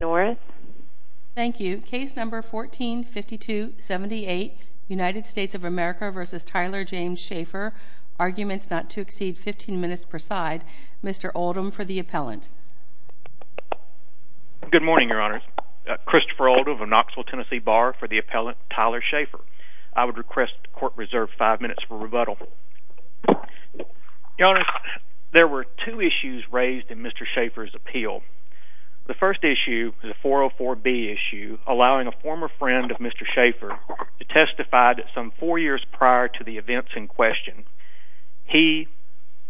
Thank you. Case No. 14-5278, United States of America v. Tyler James Schaeffer. Arguments not to exceed 15 minutes per side. Mr. Oldham for the appellant. Good morning, Your Honor. Christopher Oldham of Knoxville, Tennessee, bar for the appellant Tyler Schaeffer. I would request court reserve 5 minutes for rebuttal. Your Honor, there were two issues raised in Mr. Schaeffer's appeal. The first issue is a 404B issue allowing a former friend of Mr. Schaeffer to testify that some four years prior to the events in question, he,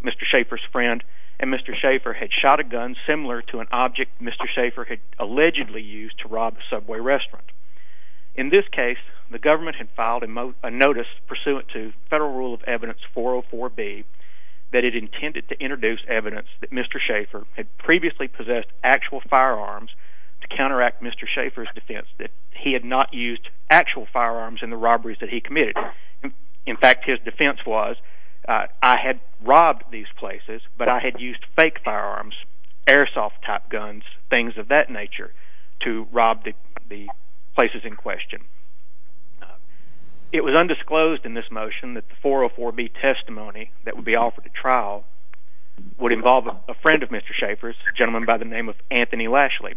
Mr. Schaeffer's friend, and Mr. Schaeffer had shot a gun similar to an object Mr. Schaeffer had allegedly used to rob a Subway restaurant. In this case, the government had filed a notice pursuant to Federal Rule of Evidence 404B that it intended to introduce evidence that Mr. Schaeffer had previously possessed actual firearms to counteract Mr. Schaeffer's defense that he had not used actual firearms in the robberies that he committed. In fact, his defense was, I had robbed these places, but I had used fake firearms, airsoft-type guns, things of that nature, to rob the places in question. It was undisclosed in this motion that the 404B testimony that would be offered at trial would involve a friend of Mr. Schaeffer's, a gentleman by the name of Anthony Lashley,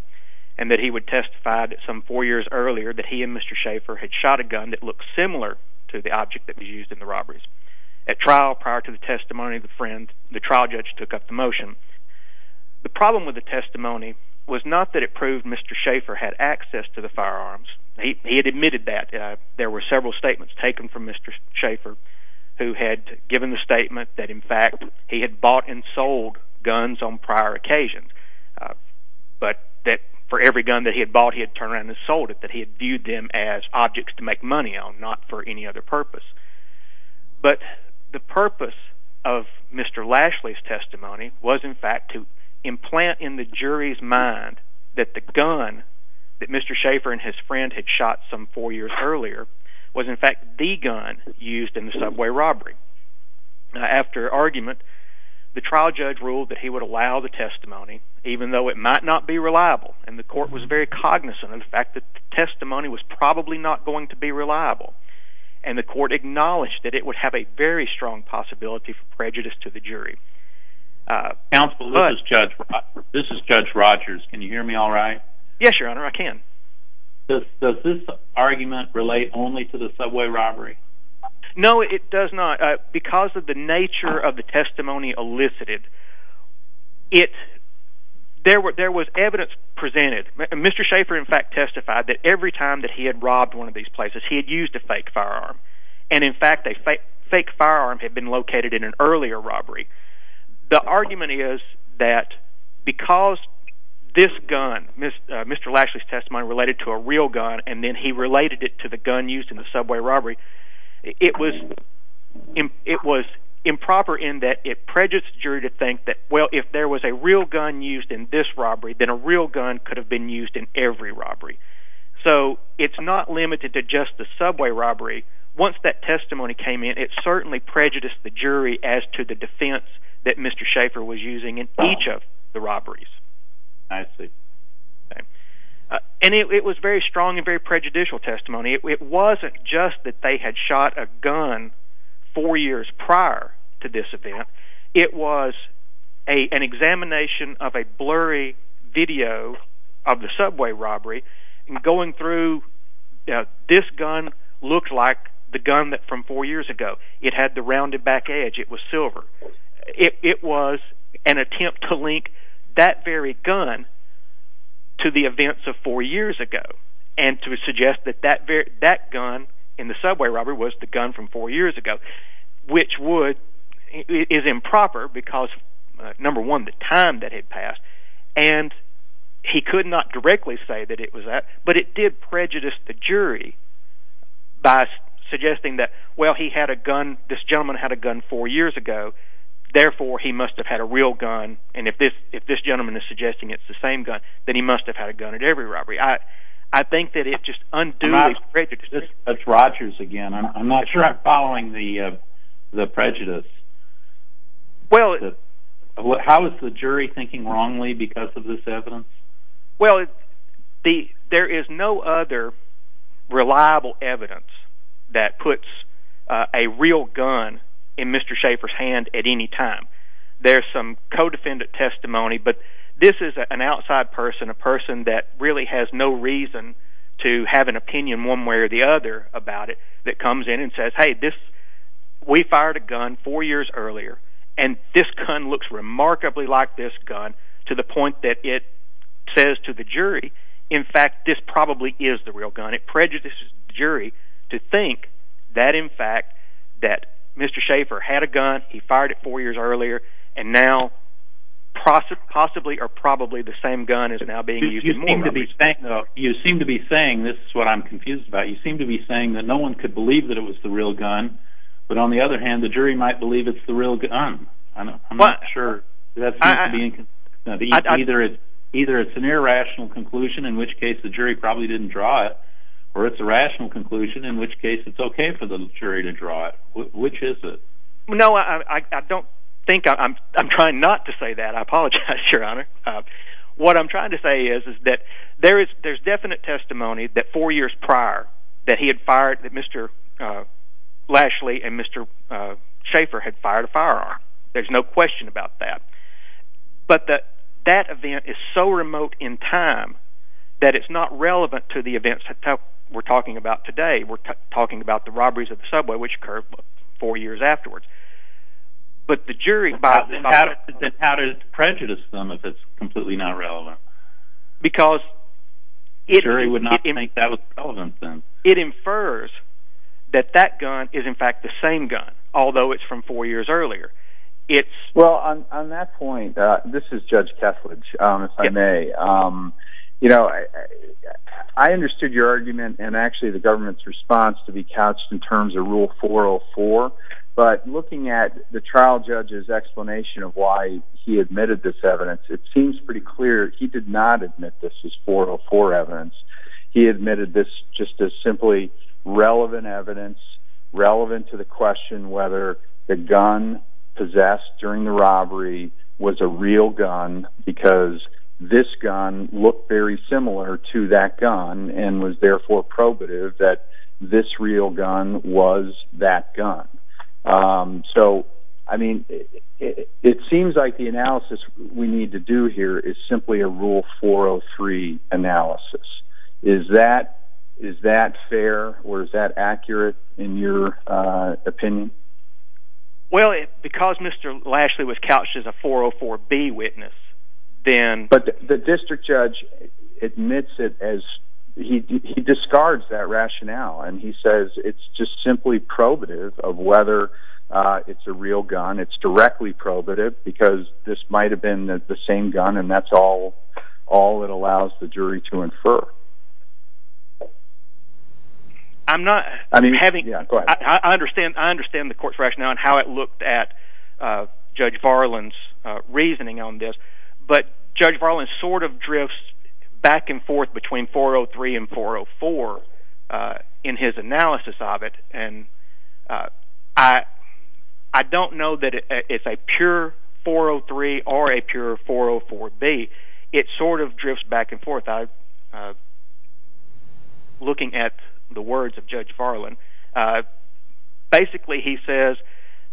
and that he would testify that some four years earlier that he and Mr. Schaeffer had shot a gun that looked similar to the object that was used in the robberies. At trial, prior to the testimony of the friend, the trial judge took up the motion. The problem with the testimony was not that it proved Mr. Schaeffer had access to the firearms. He had admitted that. There were several statements taken from Mr. Schaeffer who had given the statement that, in fact, he had bought and sold guns on prior occasions, but that for every gun that he had bought he had turned around and sold it, that he had viewed them as objects to make money on, not for any other purpose. But the purpose of Mr. Lashley's testimony was, in fact, to implant in the jury's mind that the gun that Mr. Schaeffer and his friend had shot some four years earlier was, in fact, the gun used in the subway robbery. After argument, the trial judge ruled that he would allow the testimony, even though it might not be reliable, and the court was very cognizant of the fact that the testimony was probably not going to be reliable, and the court acknowledged that it would have a very strong possibility for prejudice to the jury. Counsel, this is Judge Rogers. Can you hear me all right? Yes, Your Honor, I can. Does this argument relate only to the subway robbery? No, it does not. Because of the nature of the testimony elicited, there was evidence presented. Mr. Schaeffer, in fact, testified that every time that he had robbed one of these places he had used a fake firearm, and in fact a fake firearm had been located in an earlier robbery. The argument is that because this gun, Mr. Lashley's testimony related to a real gun, and then he related it to the gun used in the subway robbery, it was improper in that it prejudged the jury to think that, well, if there was a real gun used in this robbery, then a real gun could have been used in every robbery. So it's not limited to just the subway robbery. Once that testimony came in, it certainly prejudiced the jury as to the defense that Mr. Schaeffer was using in each of the robberies. I see. And it was very strong and very prejudicial testimony. It wasn't just that they had shot a gun four years prior to this event. It was an examination of a blurry video of the subway robbery. Going through, this gun looked like the gun from four years ago. It had the rounded back edge. It was silver. It was an attempt to link that very gun to the events of four years ago and to suggest that that gun in the subway robbery was the gun from four years ago, which is improper because, number one, the time that it passed. And he could not directly say that it was that, but it did prejudice the jury by suggesting that, well, he had a gun – this gentleman had a gun four years ago. Therefore, he must have had a real gun, and if this gentleman is suggesting it's the same gun, then he must have had a gun at every robbery. I think that it just unduly prejudiced the jury. That's Rogers again. I'm not sure I'm following the prejudice. How is the jury thinking wrongly because of this evidence? Well, there is no other reliable evidence that puts a real gun in Mr. Schaffer's hand at any time. There's some co-defendant testimony, but this is an outside person, a person that really has no reason to have an opinion one way or the other about it, that comes in and says, hey, we fired a gun four years earlier, and this gun looks remarkably like this gun to the point that it – says to the jury, in fact, this probably is the real gun. It prejudices the jury to think that, in fact, that Mr. Schaffer had a gun, he fired it four years earlier, and now possibly or probably the same gun is now being used in more robberies. You seem to be saying, this is what I'm confused about, you seem to be saying that no one could believe that it was the real gun, but on the other hand, the jury might believe it's the real gun. I'm not sure. Either it's an irrational conclusion, in which case the jury probably didn't draw it, or it's a rational conclusion in which case it's okay for the jury to draw it. Which is it? No, I don't think – I'm trying not to say that. I apologize, Your Honor. What I'm trying to say is that there's definite testimony that four years prior that he had fired – that Mr. Lashley and Mr. Schaffer had fired a firearm. There's no question about that. But that event is so remote in time that it's not relevant to the events we're talking about today. We're talking about the robberies at the subway, which occurred four years afterwards. But the jury – How does it prejudice them if it's completely not relevant? The jury would not think that was relevant then. It infers that that gun is, in fact, the same gun, although it's from four years earlier. Well, on that point, this is Judge Kethledge, if I may. I understood your argument and actually the government's response to be couched in terms of Rule 404, but looking at the trial judge's explanation of why he admitted this evidence, it seems pretty clear he did not admit this as 404 evidence. He admitted this just as simply relevant evidence, relevant to the question whether the gun possessed during the robbery was a real gun because this gun looked very similar to that gun and was therefore probative that this real gun was that gun. So, I mean, it seems like the analysis we need to do here is simply a Rule 403 analysis. Is that fair or is that accurate in your opinion? Well, because Mr. Lashley was couched as a 404B witness, then – But the district judge admits it as – he discards that rationale and he says it's just simply probative of whether it's a real gun. It's directly probative because this might have been the same gun and that's all it allows the jury to infer. I'm not – I understand the court's rationale and how it looked at Judge Farland's reasoning on this, but Judge Farland sort of drifts back and forth between 403 and 404 in his analysis of it. And I don't know that it's a pure 403 or a pure 404B. It sort of drifts back and forth. Looking at the words of Judge Farland, basically he says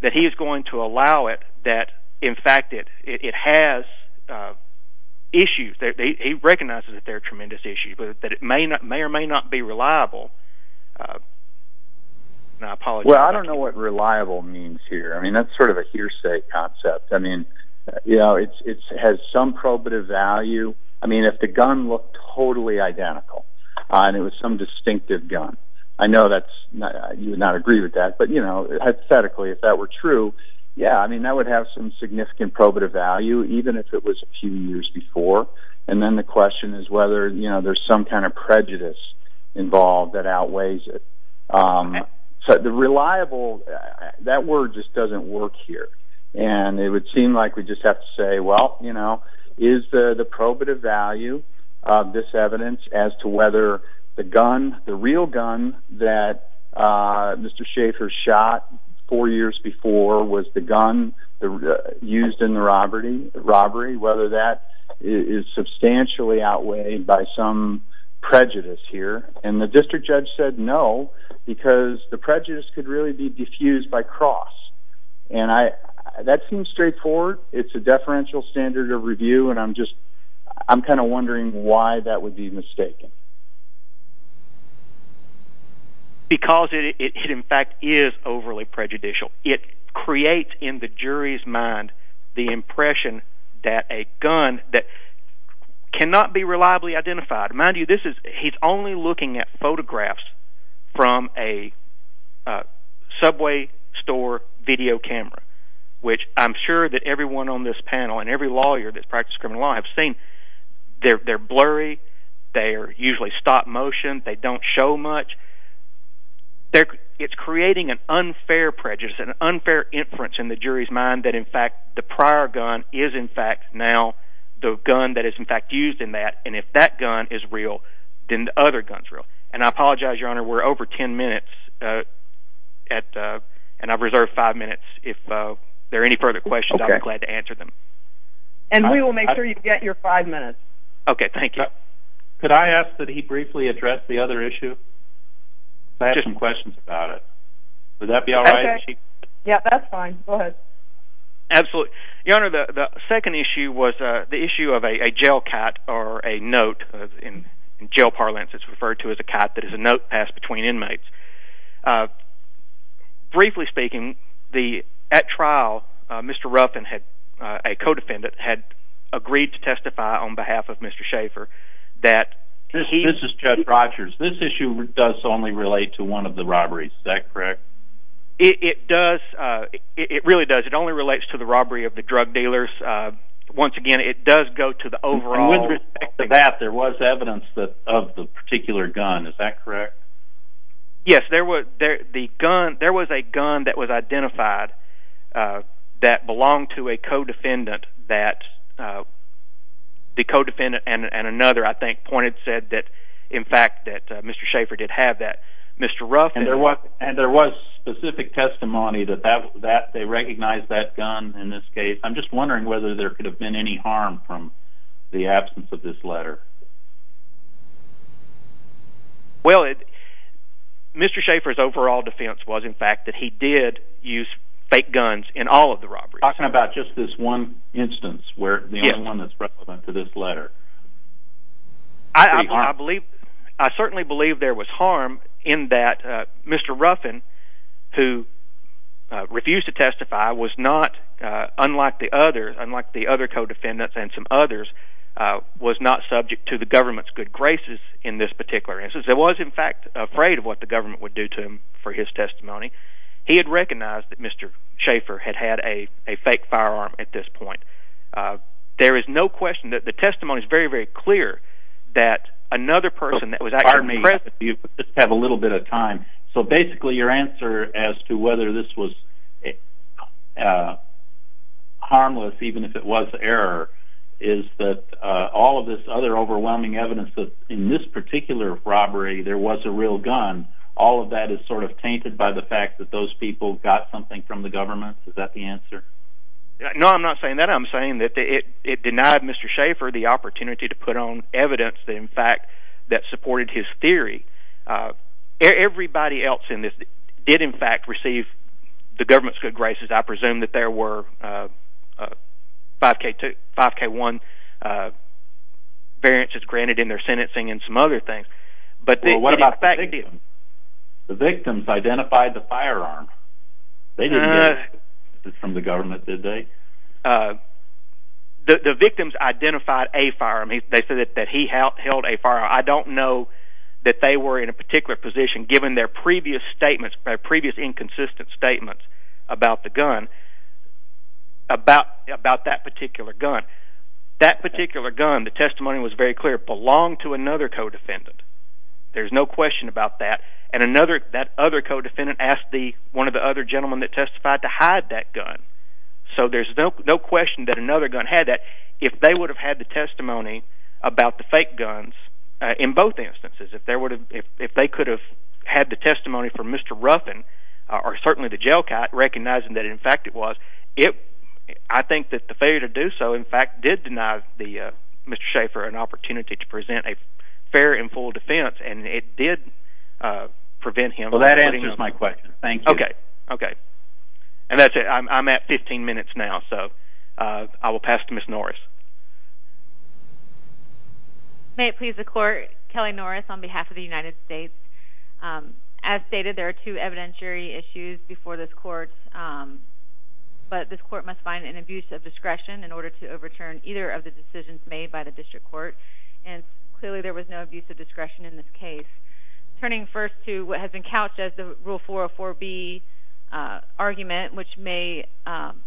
that he is going to allow it that in fact it has issues. He recognizes that there are tremendous issues, but that it may or may not be reliable. Well, I don't know what reliable means here. I mean, that's sort of a hearsay concept. I mean, you know, it has some probative value. I mean, if the gun looked totally identical and it was some distinctive gun, I know that's – you would not agree with that. But, you know, hypothetically, if that were true, yeah, I mean, that would have some significant probative value even if it was a few years before. And then the question is whether, you know, there's some kind of prejudice involved that outweighs it. But the reliable – that word just doesn't work here. And it would seem like we just have to say, well, you know, is the probative value of this evidence as to whether the gun, the real gun that Mr. Schaffer shot four years before was the gun used in the robbery, whether that is substantially outweighed by some prejudice here. And the district judge said no because the prejudice could really be diffused by cross. And that seems straightforward. It's a deferential standard of review, and I'm just – I'm kind of wondering why that would be mistaken. Because it in fact is overly prejudicial. It creates in the jury's mind the impression that a gun that cannot be reliably identified – mind you, this is – he's only looking at photographs from a subway store video camera, which I'm sure that everyone on this panel and every lawyer that's practiced criminal law have seen. They're blurry. They're usually stop motion. They don't show much. It's creating an unfair prejudice, an unfair inference in the jury's mind that in fact the prior gun is in fact now the gun that is in fact used in that. And if that gun is real, then the other gun is real. And I apologize, Your Honor. We're over 10 minutes, and I've reserved five minutes. If there are any further questions, I'm glad to answer them. And we will make sure you get your five minutes. Okay, thank you. Could I ask that he briefly address the other issue? I have some questions about it. Would that be all right? Yeah, that's fine. Go ahead. Absolutely. Your Honor, the second issue was the issue of a jail cat or a note. In jail parlance, it's referred to as a cat that is a note passed between inmates. Briefly speaking, at trial, Mr. Ruffin, a co-defendant, had agreed to testify on behalf of Mr. Schaefer that – This is Judge Rogers. This issue does only relate to one of the robberies. Is that correct? It does. It really does. It only relates to the robbery of the drug dealers. Once again, it does go to the overall – With respect to that, there was evidence of the particular gun. Is that correct? Yes. There was a gun that was identified that belonged to a co-defendant that the co-defendant and another, I think, pointed – said that in fact that Mr. Schaefer did have that. And there was specific testimony that they recognized that gun in this case. I'm just wondering whether there could have been any harm from the absence of this letter. Well, Mr. Schaefer's overall defense was, in fact, that he did use fake guns in all of the robberies. I'm talking about just this one instance where the only one that's relevant to this letter. I certainly believe there was harm in that Mr. Ruffin, who refused to testify, unlike the other co-defendants and some others, was not subject to the government's good graces in this particular instance. He was, in fact, afraid of what the government would do to him for his testimony. He had recognized that Mr. Schaefer had had a fake firearm at this point. There is no question that the testimony is very, very clear that another person that was actually present… Pardon me. If you could just have a little bit of time. So basically your answer as to whether this was harmless, even if it was error, is that all of this other overwhelming evidence that in this particular robbery there was a real gun, all of that is sort of tainted by the fact that those people got something from the government? Is that the answer? No, I'm not saying that. I'm saying that it denied Mr. Schaefer the opportunity to put on evidence that, in fact, supported his theory. Everybody else in this did, in fact, receive the government's good graces. I presume that there were 5K1 variances granted in their sentencing and some other things. Well, what about the victims? The victims identified the firearm. They didn't get it from the government, did they? The victims identified a firearm. They said that he held a firearm. I don't know that they were in a particular position, given their previous inconsistent statements about that particular gun. That particular gun, the testimony was very clear, belonged to another co-defendant. There's no question about that. And that other co-defendant asked one of the other gentlemen that testified to hide that gun. So there's no question that another gun had that. If they would have had the testimony about the fake guns, in both instances, if they could have had the testimony for Mr. Ruffin, or certainly the jail cat, recognizing that in fact it was, I think that the failure to do so, in fact, did deny Mr. Schaefer an opportunity to present a fair and full defense, and it did prevent him. Well, that answers my question. Thank you. Okay. Okay. And that's it. I'm at 15 minutes now, so I will pass to Ms. Norris. May it please the Court, Kelly Norris on behalf of the United States. As stated, there are two evidentiary issues before this Court, but this Court must find an abuse of discretion in order to overturn either of the decisions made by the District Court, and clearly there was no abuse of discretion in this case. Turning first to what has been couched as the Rule 404B argument, which may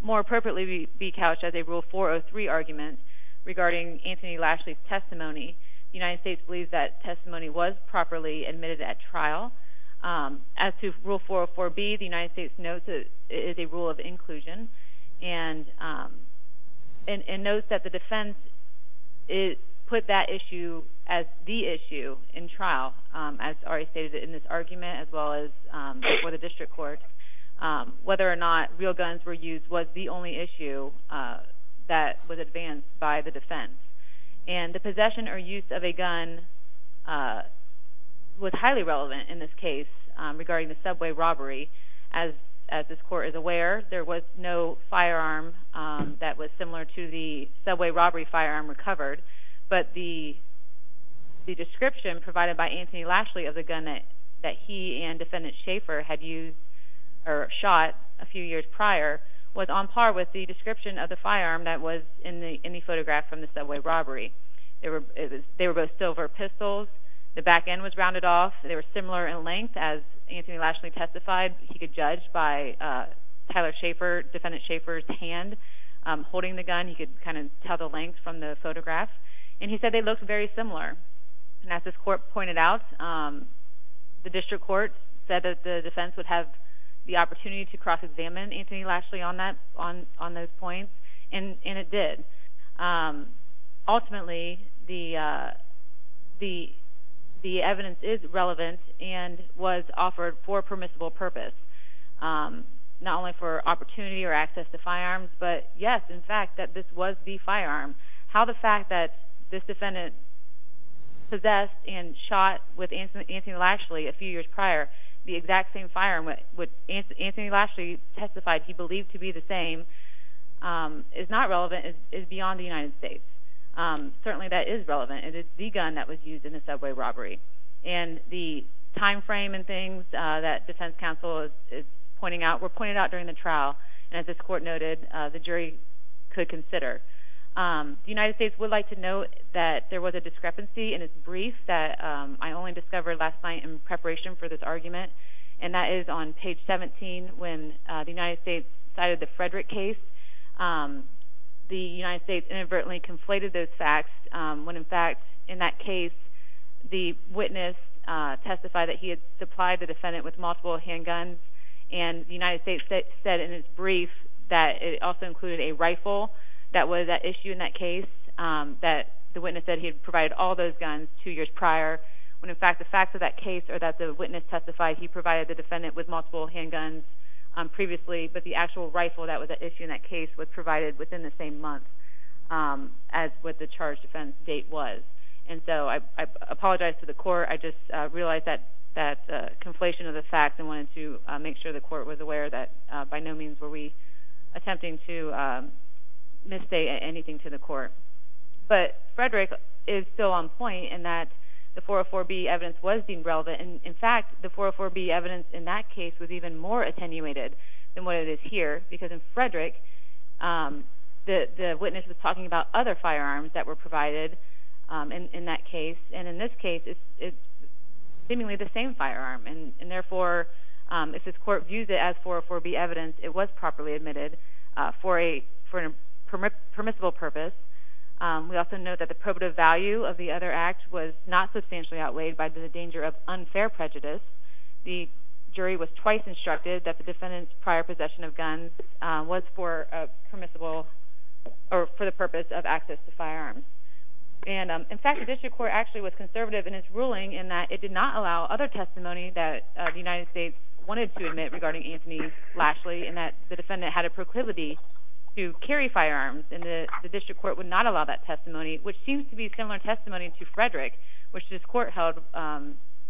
more appropriately be couched as a Rule 403 argument regarding Anthony Lashley's testimony, the United States believes that testimony was properly admitted at trial. As to Rule 404B, the United States notes it is a rule of inclusion, and notes that the defense put that issue as the issue in trial, as already stated in this argument, as well as before the District Court, whether or not real guns were used was the only issue that was advanced by the defense. And the possession or use of a gun was highly relevant in this case regarding the subway robbery. As this Court is aware, there was no firearm that was similar to the subway robbery firearm recovered, but the description provided by Anthony Lashley of the gun that he and Defendant Schaffer had used or shot a few years prior was on par with the description of the firearm that was in the photograph from the subway robbery. They were both silver pistols. The back end was rounded off. They were similar in length. As Anthony Lashley testified, he could judge by Tyler Schaffer, Defendant Schaffer's hand, holding the gun. He could kind of tell the length from the photograph. And he said they looked very similar. And as this Court pointed out, the District Court said that the defense would have the opportunity to cross-examine Anthony Lashley on those points, and it did. Ultimately, the evidence is relevant and was offered for a permissible purpose, not only for opportunity or access to firearms, but yes, in fact, that this was the firearm. How the fact that this defendant possessed and shot with Anthony Lashley a few years prior the exact same firearm, which Anthony Lashley testified he believed to be the same, is not relevant and is beyond the United States. Certainly, that is relevant. It is the gun that was used in the subway robbery. And the time frame and things that Defense Counsel is pointing out were pointed out during the trial, and as this Court noted, the jury could consider. The United States would like to note that there was a discrepancy in its brief that I only discovered last night in preparation for this argument, and that is on page 17 when the United States cited the Frederick case. The United States inadvertently conflated those facts when, in fact, in that case, the witness testified that he had supplied the defendant with multiple handguns, and the United States said in its brief that it also included a rifle that was at issue in that case. The witness said he had provided all those guns two years prior when, in fact, the facts of that case are that the witness testified he provided the defendant with multiple handguns previously, but the actual rifle that was at issue in that case was provided within the same month as what the charge defense date was. And so I apologize to the Court. I just realized that conflation of the facts and wanted to make sure the Court was aware that by no means were we attempting to misstate anything to the Court. But Frederick is still on point in that the 404B evidence was deemed relevant, and in fact, the 404B evidence in that case was even more attenuated than what it is here, because in Frederick, the witness was talking about other firearms that were provided in that case, and in this case, it's seemingly the same firearm, and therefore, if this Court views it as 404B evidence, it was properly admitted for a permissible purpose. We also note that the probative value of the other act was not substantially outweighed by the danger of unfair prejudice. The jury was twice instructed that the defendant's prior possession of guns was for the purpose of access to firearms. And in fact, the District Court actually was conservative in its ruling in that it did not allow other testimony that the United States wanted to admit regarding Anthony Lashley, and that the defendant had a proclivity to carry firearms, and the District Court would not allow that testimony, which seems to be similar testimony to Frederick, which this Court held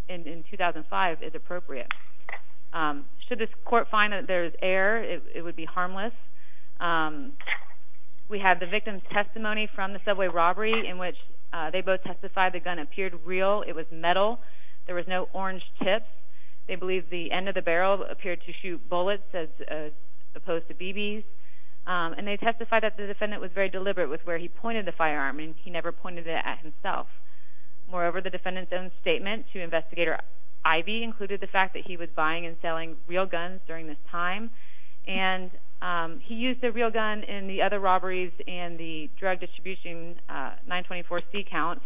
in 2005 as appropriate. Should this Court find that there's error, it would be harmless. We have the victim's testimony from the subway robbery, in which they both testified the gun appeared real, it was metal, there was no orange tips, they believed the end of the barrel appeared to shoot bullets as opposed to BBs, and they testified that the defendant was very deliberate with where he pointed the firearm, and he never pointed it at himself. Moreover, the defendant's own statement to Investigator Ivey included the fact that he was buying and selling real guns during this time, and he used a real gun in the other robberies and the drug distribution 924C count,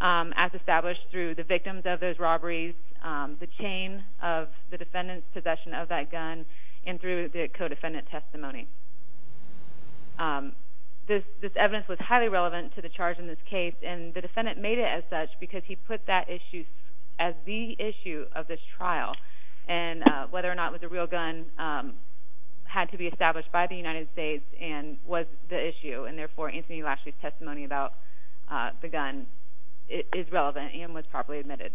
as established through the victims of those robberies, the chain of the defendant's possession of that gun, and through the co-defendant's testimony. This evidence was highly relevant to the charge in this case, and the defendant made it as such because he put that issue as the issue of this trial, and whether or not it was a real gun had to be established by the United States and was the issue, and therefore Anthony Lashley's testimony about the gun is relevant and was properly admitted.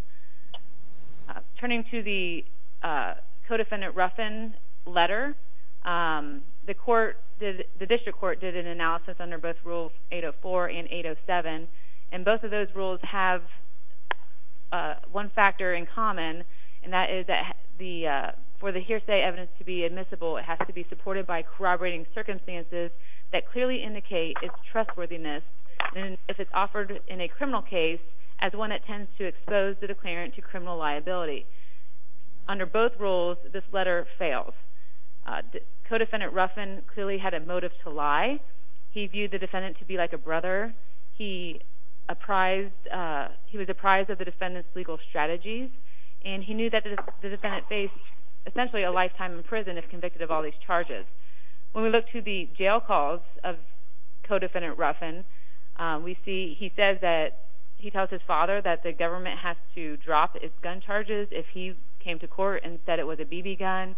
Turning to the co-defendant Ruffin letter, the district court did an analysis under both Rules 804 and 807, and both of those rules have one factor in common, and that is for the hearsay evidence to be admissible, it has to be supported by corroborating circumstances that clearly indicate its trustworthiness. If it's offered in a criminal case, as one that tends to expose the declarant to criminal liability. Under both rules, this letter fails. Co-defendant Ruffin clearly had a motive to lie. He viewed the defendant to be like a brother. He was apprised of the defendant's legal strategies, and he knew that the defendant faced essentially a lifetime in prison if convicted of all these charges. When we look to the jail calls of co-defendant Ruffin, he tells his father that the government has to drop its gun charges if he came to court and said it was a BB gun.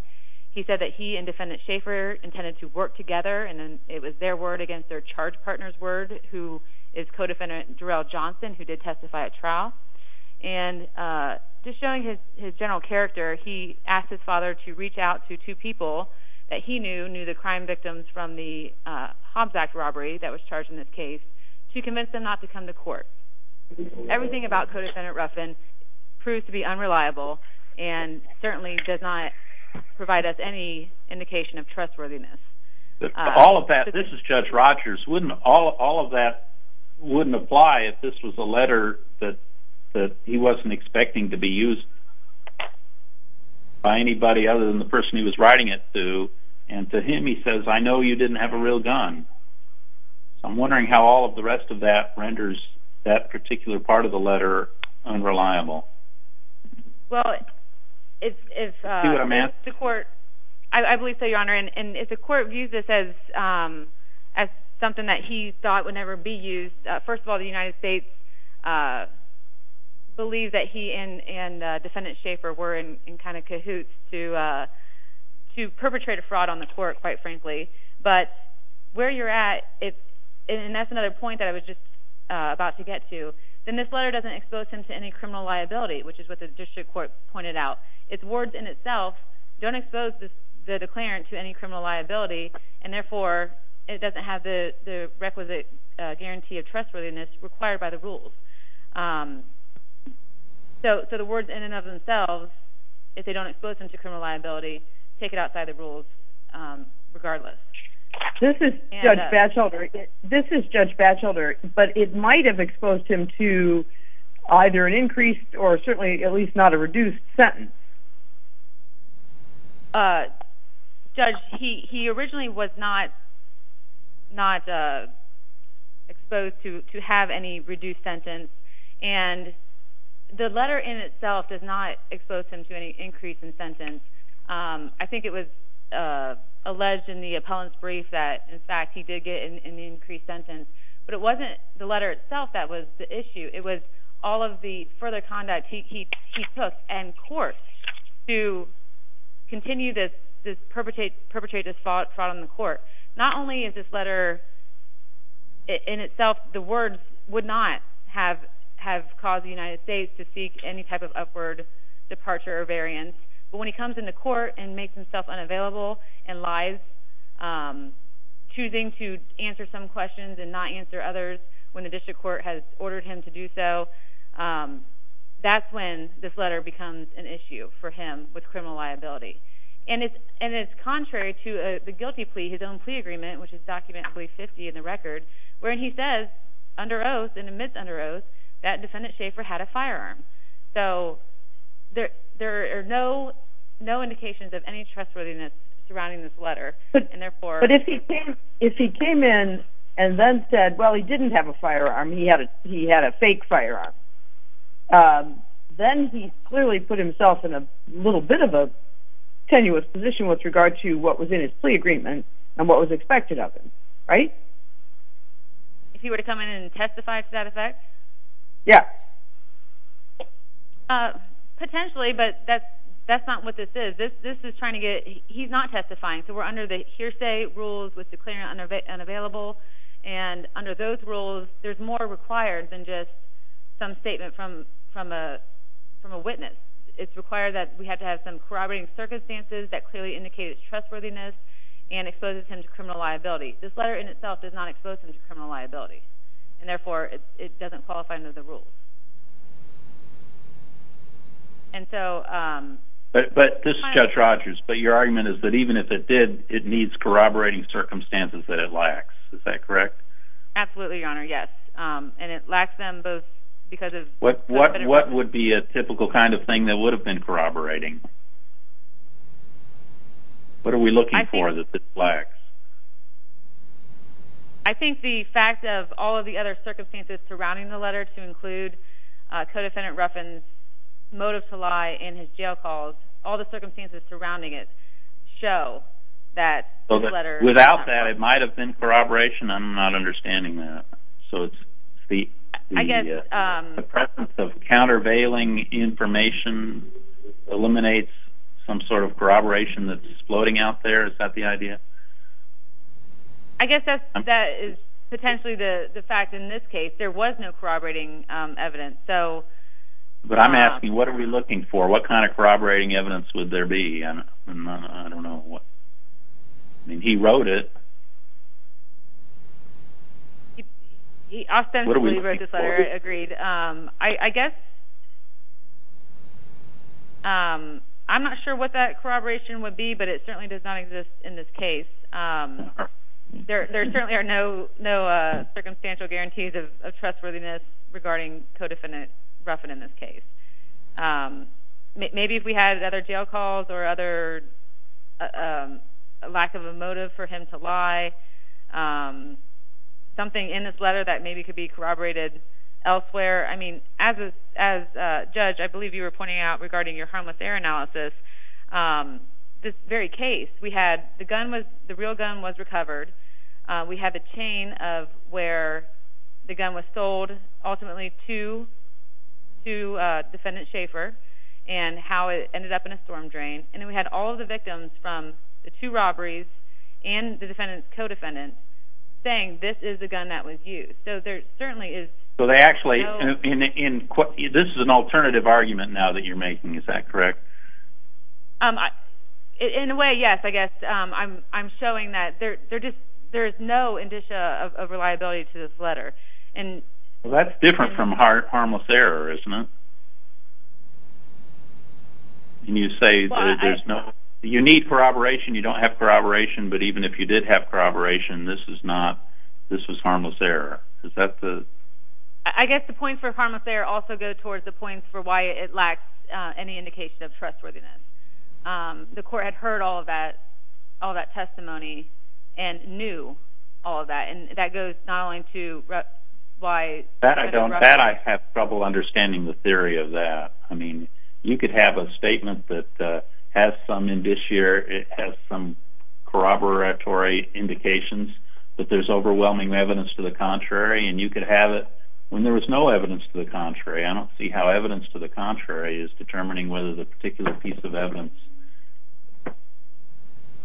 He said that he and defendant Schaffer intended to work together, and it was their word against their charge partner's word, who is co-defendant Jarell Johnson, who did testify at trial. Just showing his general character, he asked his father to reach out to two people that he knew knew the crime victims from the Hobbs Act robbery that was charged in this case, to convince them not to come to court. Everything about co-defendant Ruffin proves to be unreliable, and certainly does not provide us any indication of trustworthiness. This is Judge Rogers. All of that wouldn't apply if this was a letter that he wasn't expecting to be used by anybody other than the person he was writing it to. To him, he says, I know you didn't have a real gun. I'm wondering how all of the rest of that renders that particular part of the letter unreliable. Well, I believe so, Your Honor, and if the court views this as something that he thought would never be used, first of all, the United States believes that he and defendant Schaffer were in kind of cahoots to perpetrate a fraud on the court, quite frankly. But where you're at, and that's another point that I was just about to get to, then this letter doesn't expose him to any criminal liability, which is what the district court pointed out. It's words in itself don't expose the declarant to any criminal liability, and therefore, it doesn't have the requisite guarantee of trustworthiness required by the rules. So the words in and of themselves, if they don't expose him to criminal liability, take it outside the rules regardless. This is Judge Batchelder, but it might have exposed him to either an increased or certainly at least not a reduced sentence. Judge, he originally was not exposed to have any reduced sentence, and the letter in itself does not expose him to any increase in sentence. I think it was alleged in the appellant's brief that, in fact, he did get an increased sentence, but it wasn't the letter itself that was the issue. It was all of the further conduct he took in court to continue to perpetrate this fraud on the court. Not only is this letter, in itself, the words would not have caused the United States to seek any type of upward departure or variance, but when he comes into court and makes himself unavailable and lies, choosing to answer some questions and not answer others when the district court has ordered him to do so, that's when this letter becomes an issue for him with criminal liability. And it's contrary to the guilty plea, his own plea agreement, which is document 50 in the record, where he says under oath and amidst under oath, that defendant Schaefer had a firearm. So there are no indications of any trustworthiness surrounding this letter, and therefore... But if he came in and then said, well, he didn't have a firearm, he had a fake firearm, then he clearly put himself in a little bit of a tenuous position with regard to what was in his plea agreement and what was expected of him, right? If he were to come in and testify to that effect? Yeah. Potentially, but that's not what this is. This is trying to get... He's not testifying, so we're under the hearsay rules with declaring unavailable, and under those rules, there's more required than just some statement from a witness. It's required that we have to have some corroborating circumstances that clearly indicate his trustworthiness and exposes him to criminal liability. This letter in itself does not expose him to criminal liability, and therefore, it doesn't qualify under the rules. And so... But this is Judge Rogers, but your argument is that even if it did, it needs corroborating circumstances that it lacks. Is that correct? Absolutely, Your Honor, yes. And it lacks them both because of... What would be a typical kind of thing that would have been corroborating? What are we looking for that this lacks? I think the fact of all of the other circumstances surrounding the letter, to include Codefendant Ruffin's motive to lie and his jail calls, all the circumstances surrounding it show that this letter... Without that, it might have been corroboration. I'm not understanding that. So it's the presence of countervailing information, eliminates some sort of corroboration that's floating out there? Is that the idea? I guess that is potentially the fact in this case. There was no corroborating evidence, so... But I'm asking, what are we looking for? What kind of corroborating evidence would there be? I don't know what... I mean, he wrote it. He ostensibly wrote this letter. Agreed. And I guess... I'm not sure what that corroboration would be, but it certainly does not exist in this case. There certainly are no circumstantial guarantees of trustworthiness regarding Codefendant Ruffin in this case. Maybe if we had other jail calls or other lack of a motive for him to lie, something in this letter that maybe could be corroborated elsewhere. I mean, as a judge, I believe you were pointing out regarding your harmless error analysis, this very case, we had... The real gun was recovered. We had the chain of where the gun was sold ultimately to Defendant Schaefer and how it ended up in a storm drain. And then we had all of the victims from the two robberies and the defendant's co-defendant saying this is the gun that was used. So there certainly is... So they actually... This is an alternative argument now that you're making, is that correct? In a way, yes. I guess I'm showing that there's no indicia of reliability to this letter. Well, that's different from harmless error, isn't it? Can you say that there's no... You need corroboration. You don't have corroboration. But even if you did have corroboration, this is not... This was harmless error. Is that the... I guess the point for harmless error also goes towards the point for why it lacks any indication of trustworthiness. The court had heard all of that testimony and knew all of that. And that goes not only to why Defendant Ruffin... You could have a statement that has some indicia or it has some corroboratory indications that there's overwhelming evidence to the contrary and you could have it when there was no evidence to the contrary. I don't see how evidence to the contrary is determining whether the particular piece of evidence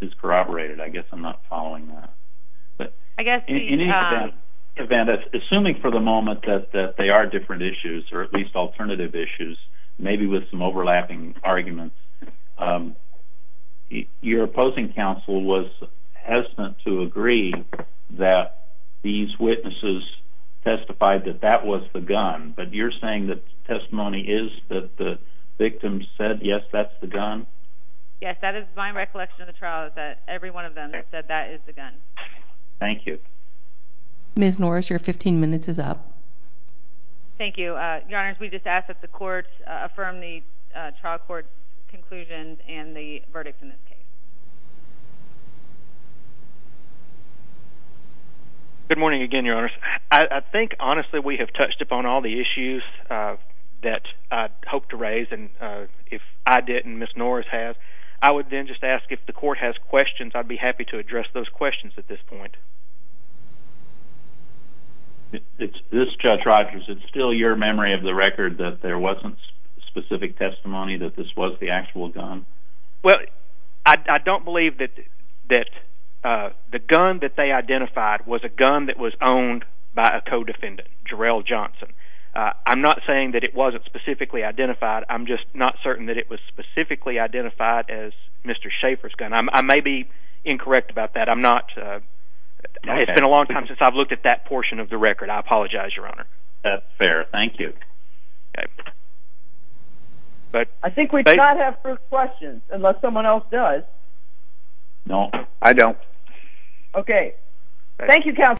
is corroborated. I guess I'm not following that. I guess the... Maybe with some overlapping arguments. Your opposing counsel was hesitant to agree that these witnesses testified that that was the gun. But you're saying that the testimony is that the victim said, yes, that's the gun? Yes, that is my recollection of the trial, that every one of them said that is the gun. Thank you. Ms. Norris, your 15 minutes is up. Thank you. Your Honors, we just ask that the court affirm the trial court conclusions and the verdict in this case. Good morning again, Your Honors. I think, honestly, we have touched upon all the issues that I hoped to raise. And if I didn't, Ms. Norris has. I would then just ask if the court has questions, I'd be happy to address those questions at this point. This is Judge Rogers. Is it still your memory of the record that there wasn't specific testimony that this was the actual gun? Well, I don't believe that the gun that they identified was a gun that was owned by a co-defendant, Jarrell Johnson. I'm not saying that it wasn't specifically identified. I'm just not certain that it was specifically identified as Mr. Schaeffer's gun. I may be incorrect about that. It's been a long time since I've looked at that portion of the record. I apologize, Your Honor. That's fair. Thank you. I think we do not have further questions, unless someone else does. Okay. Thank you, Counsel.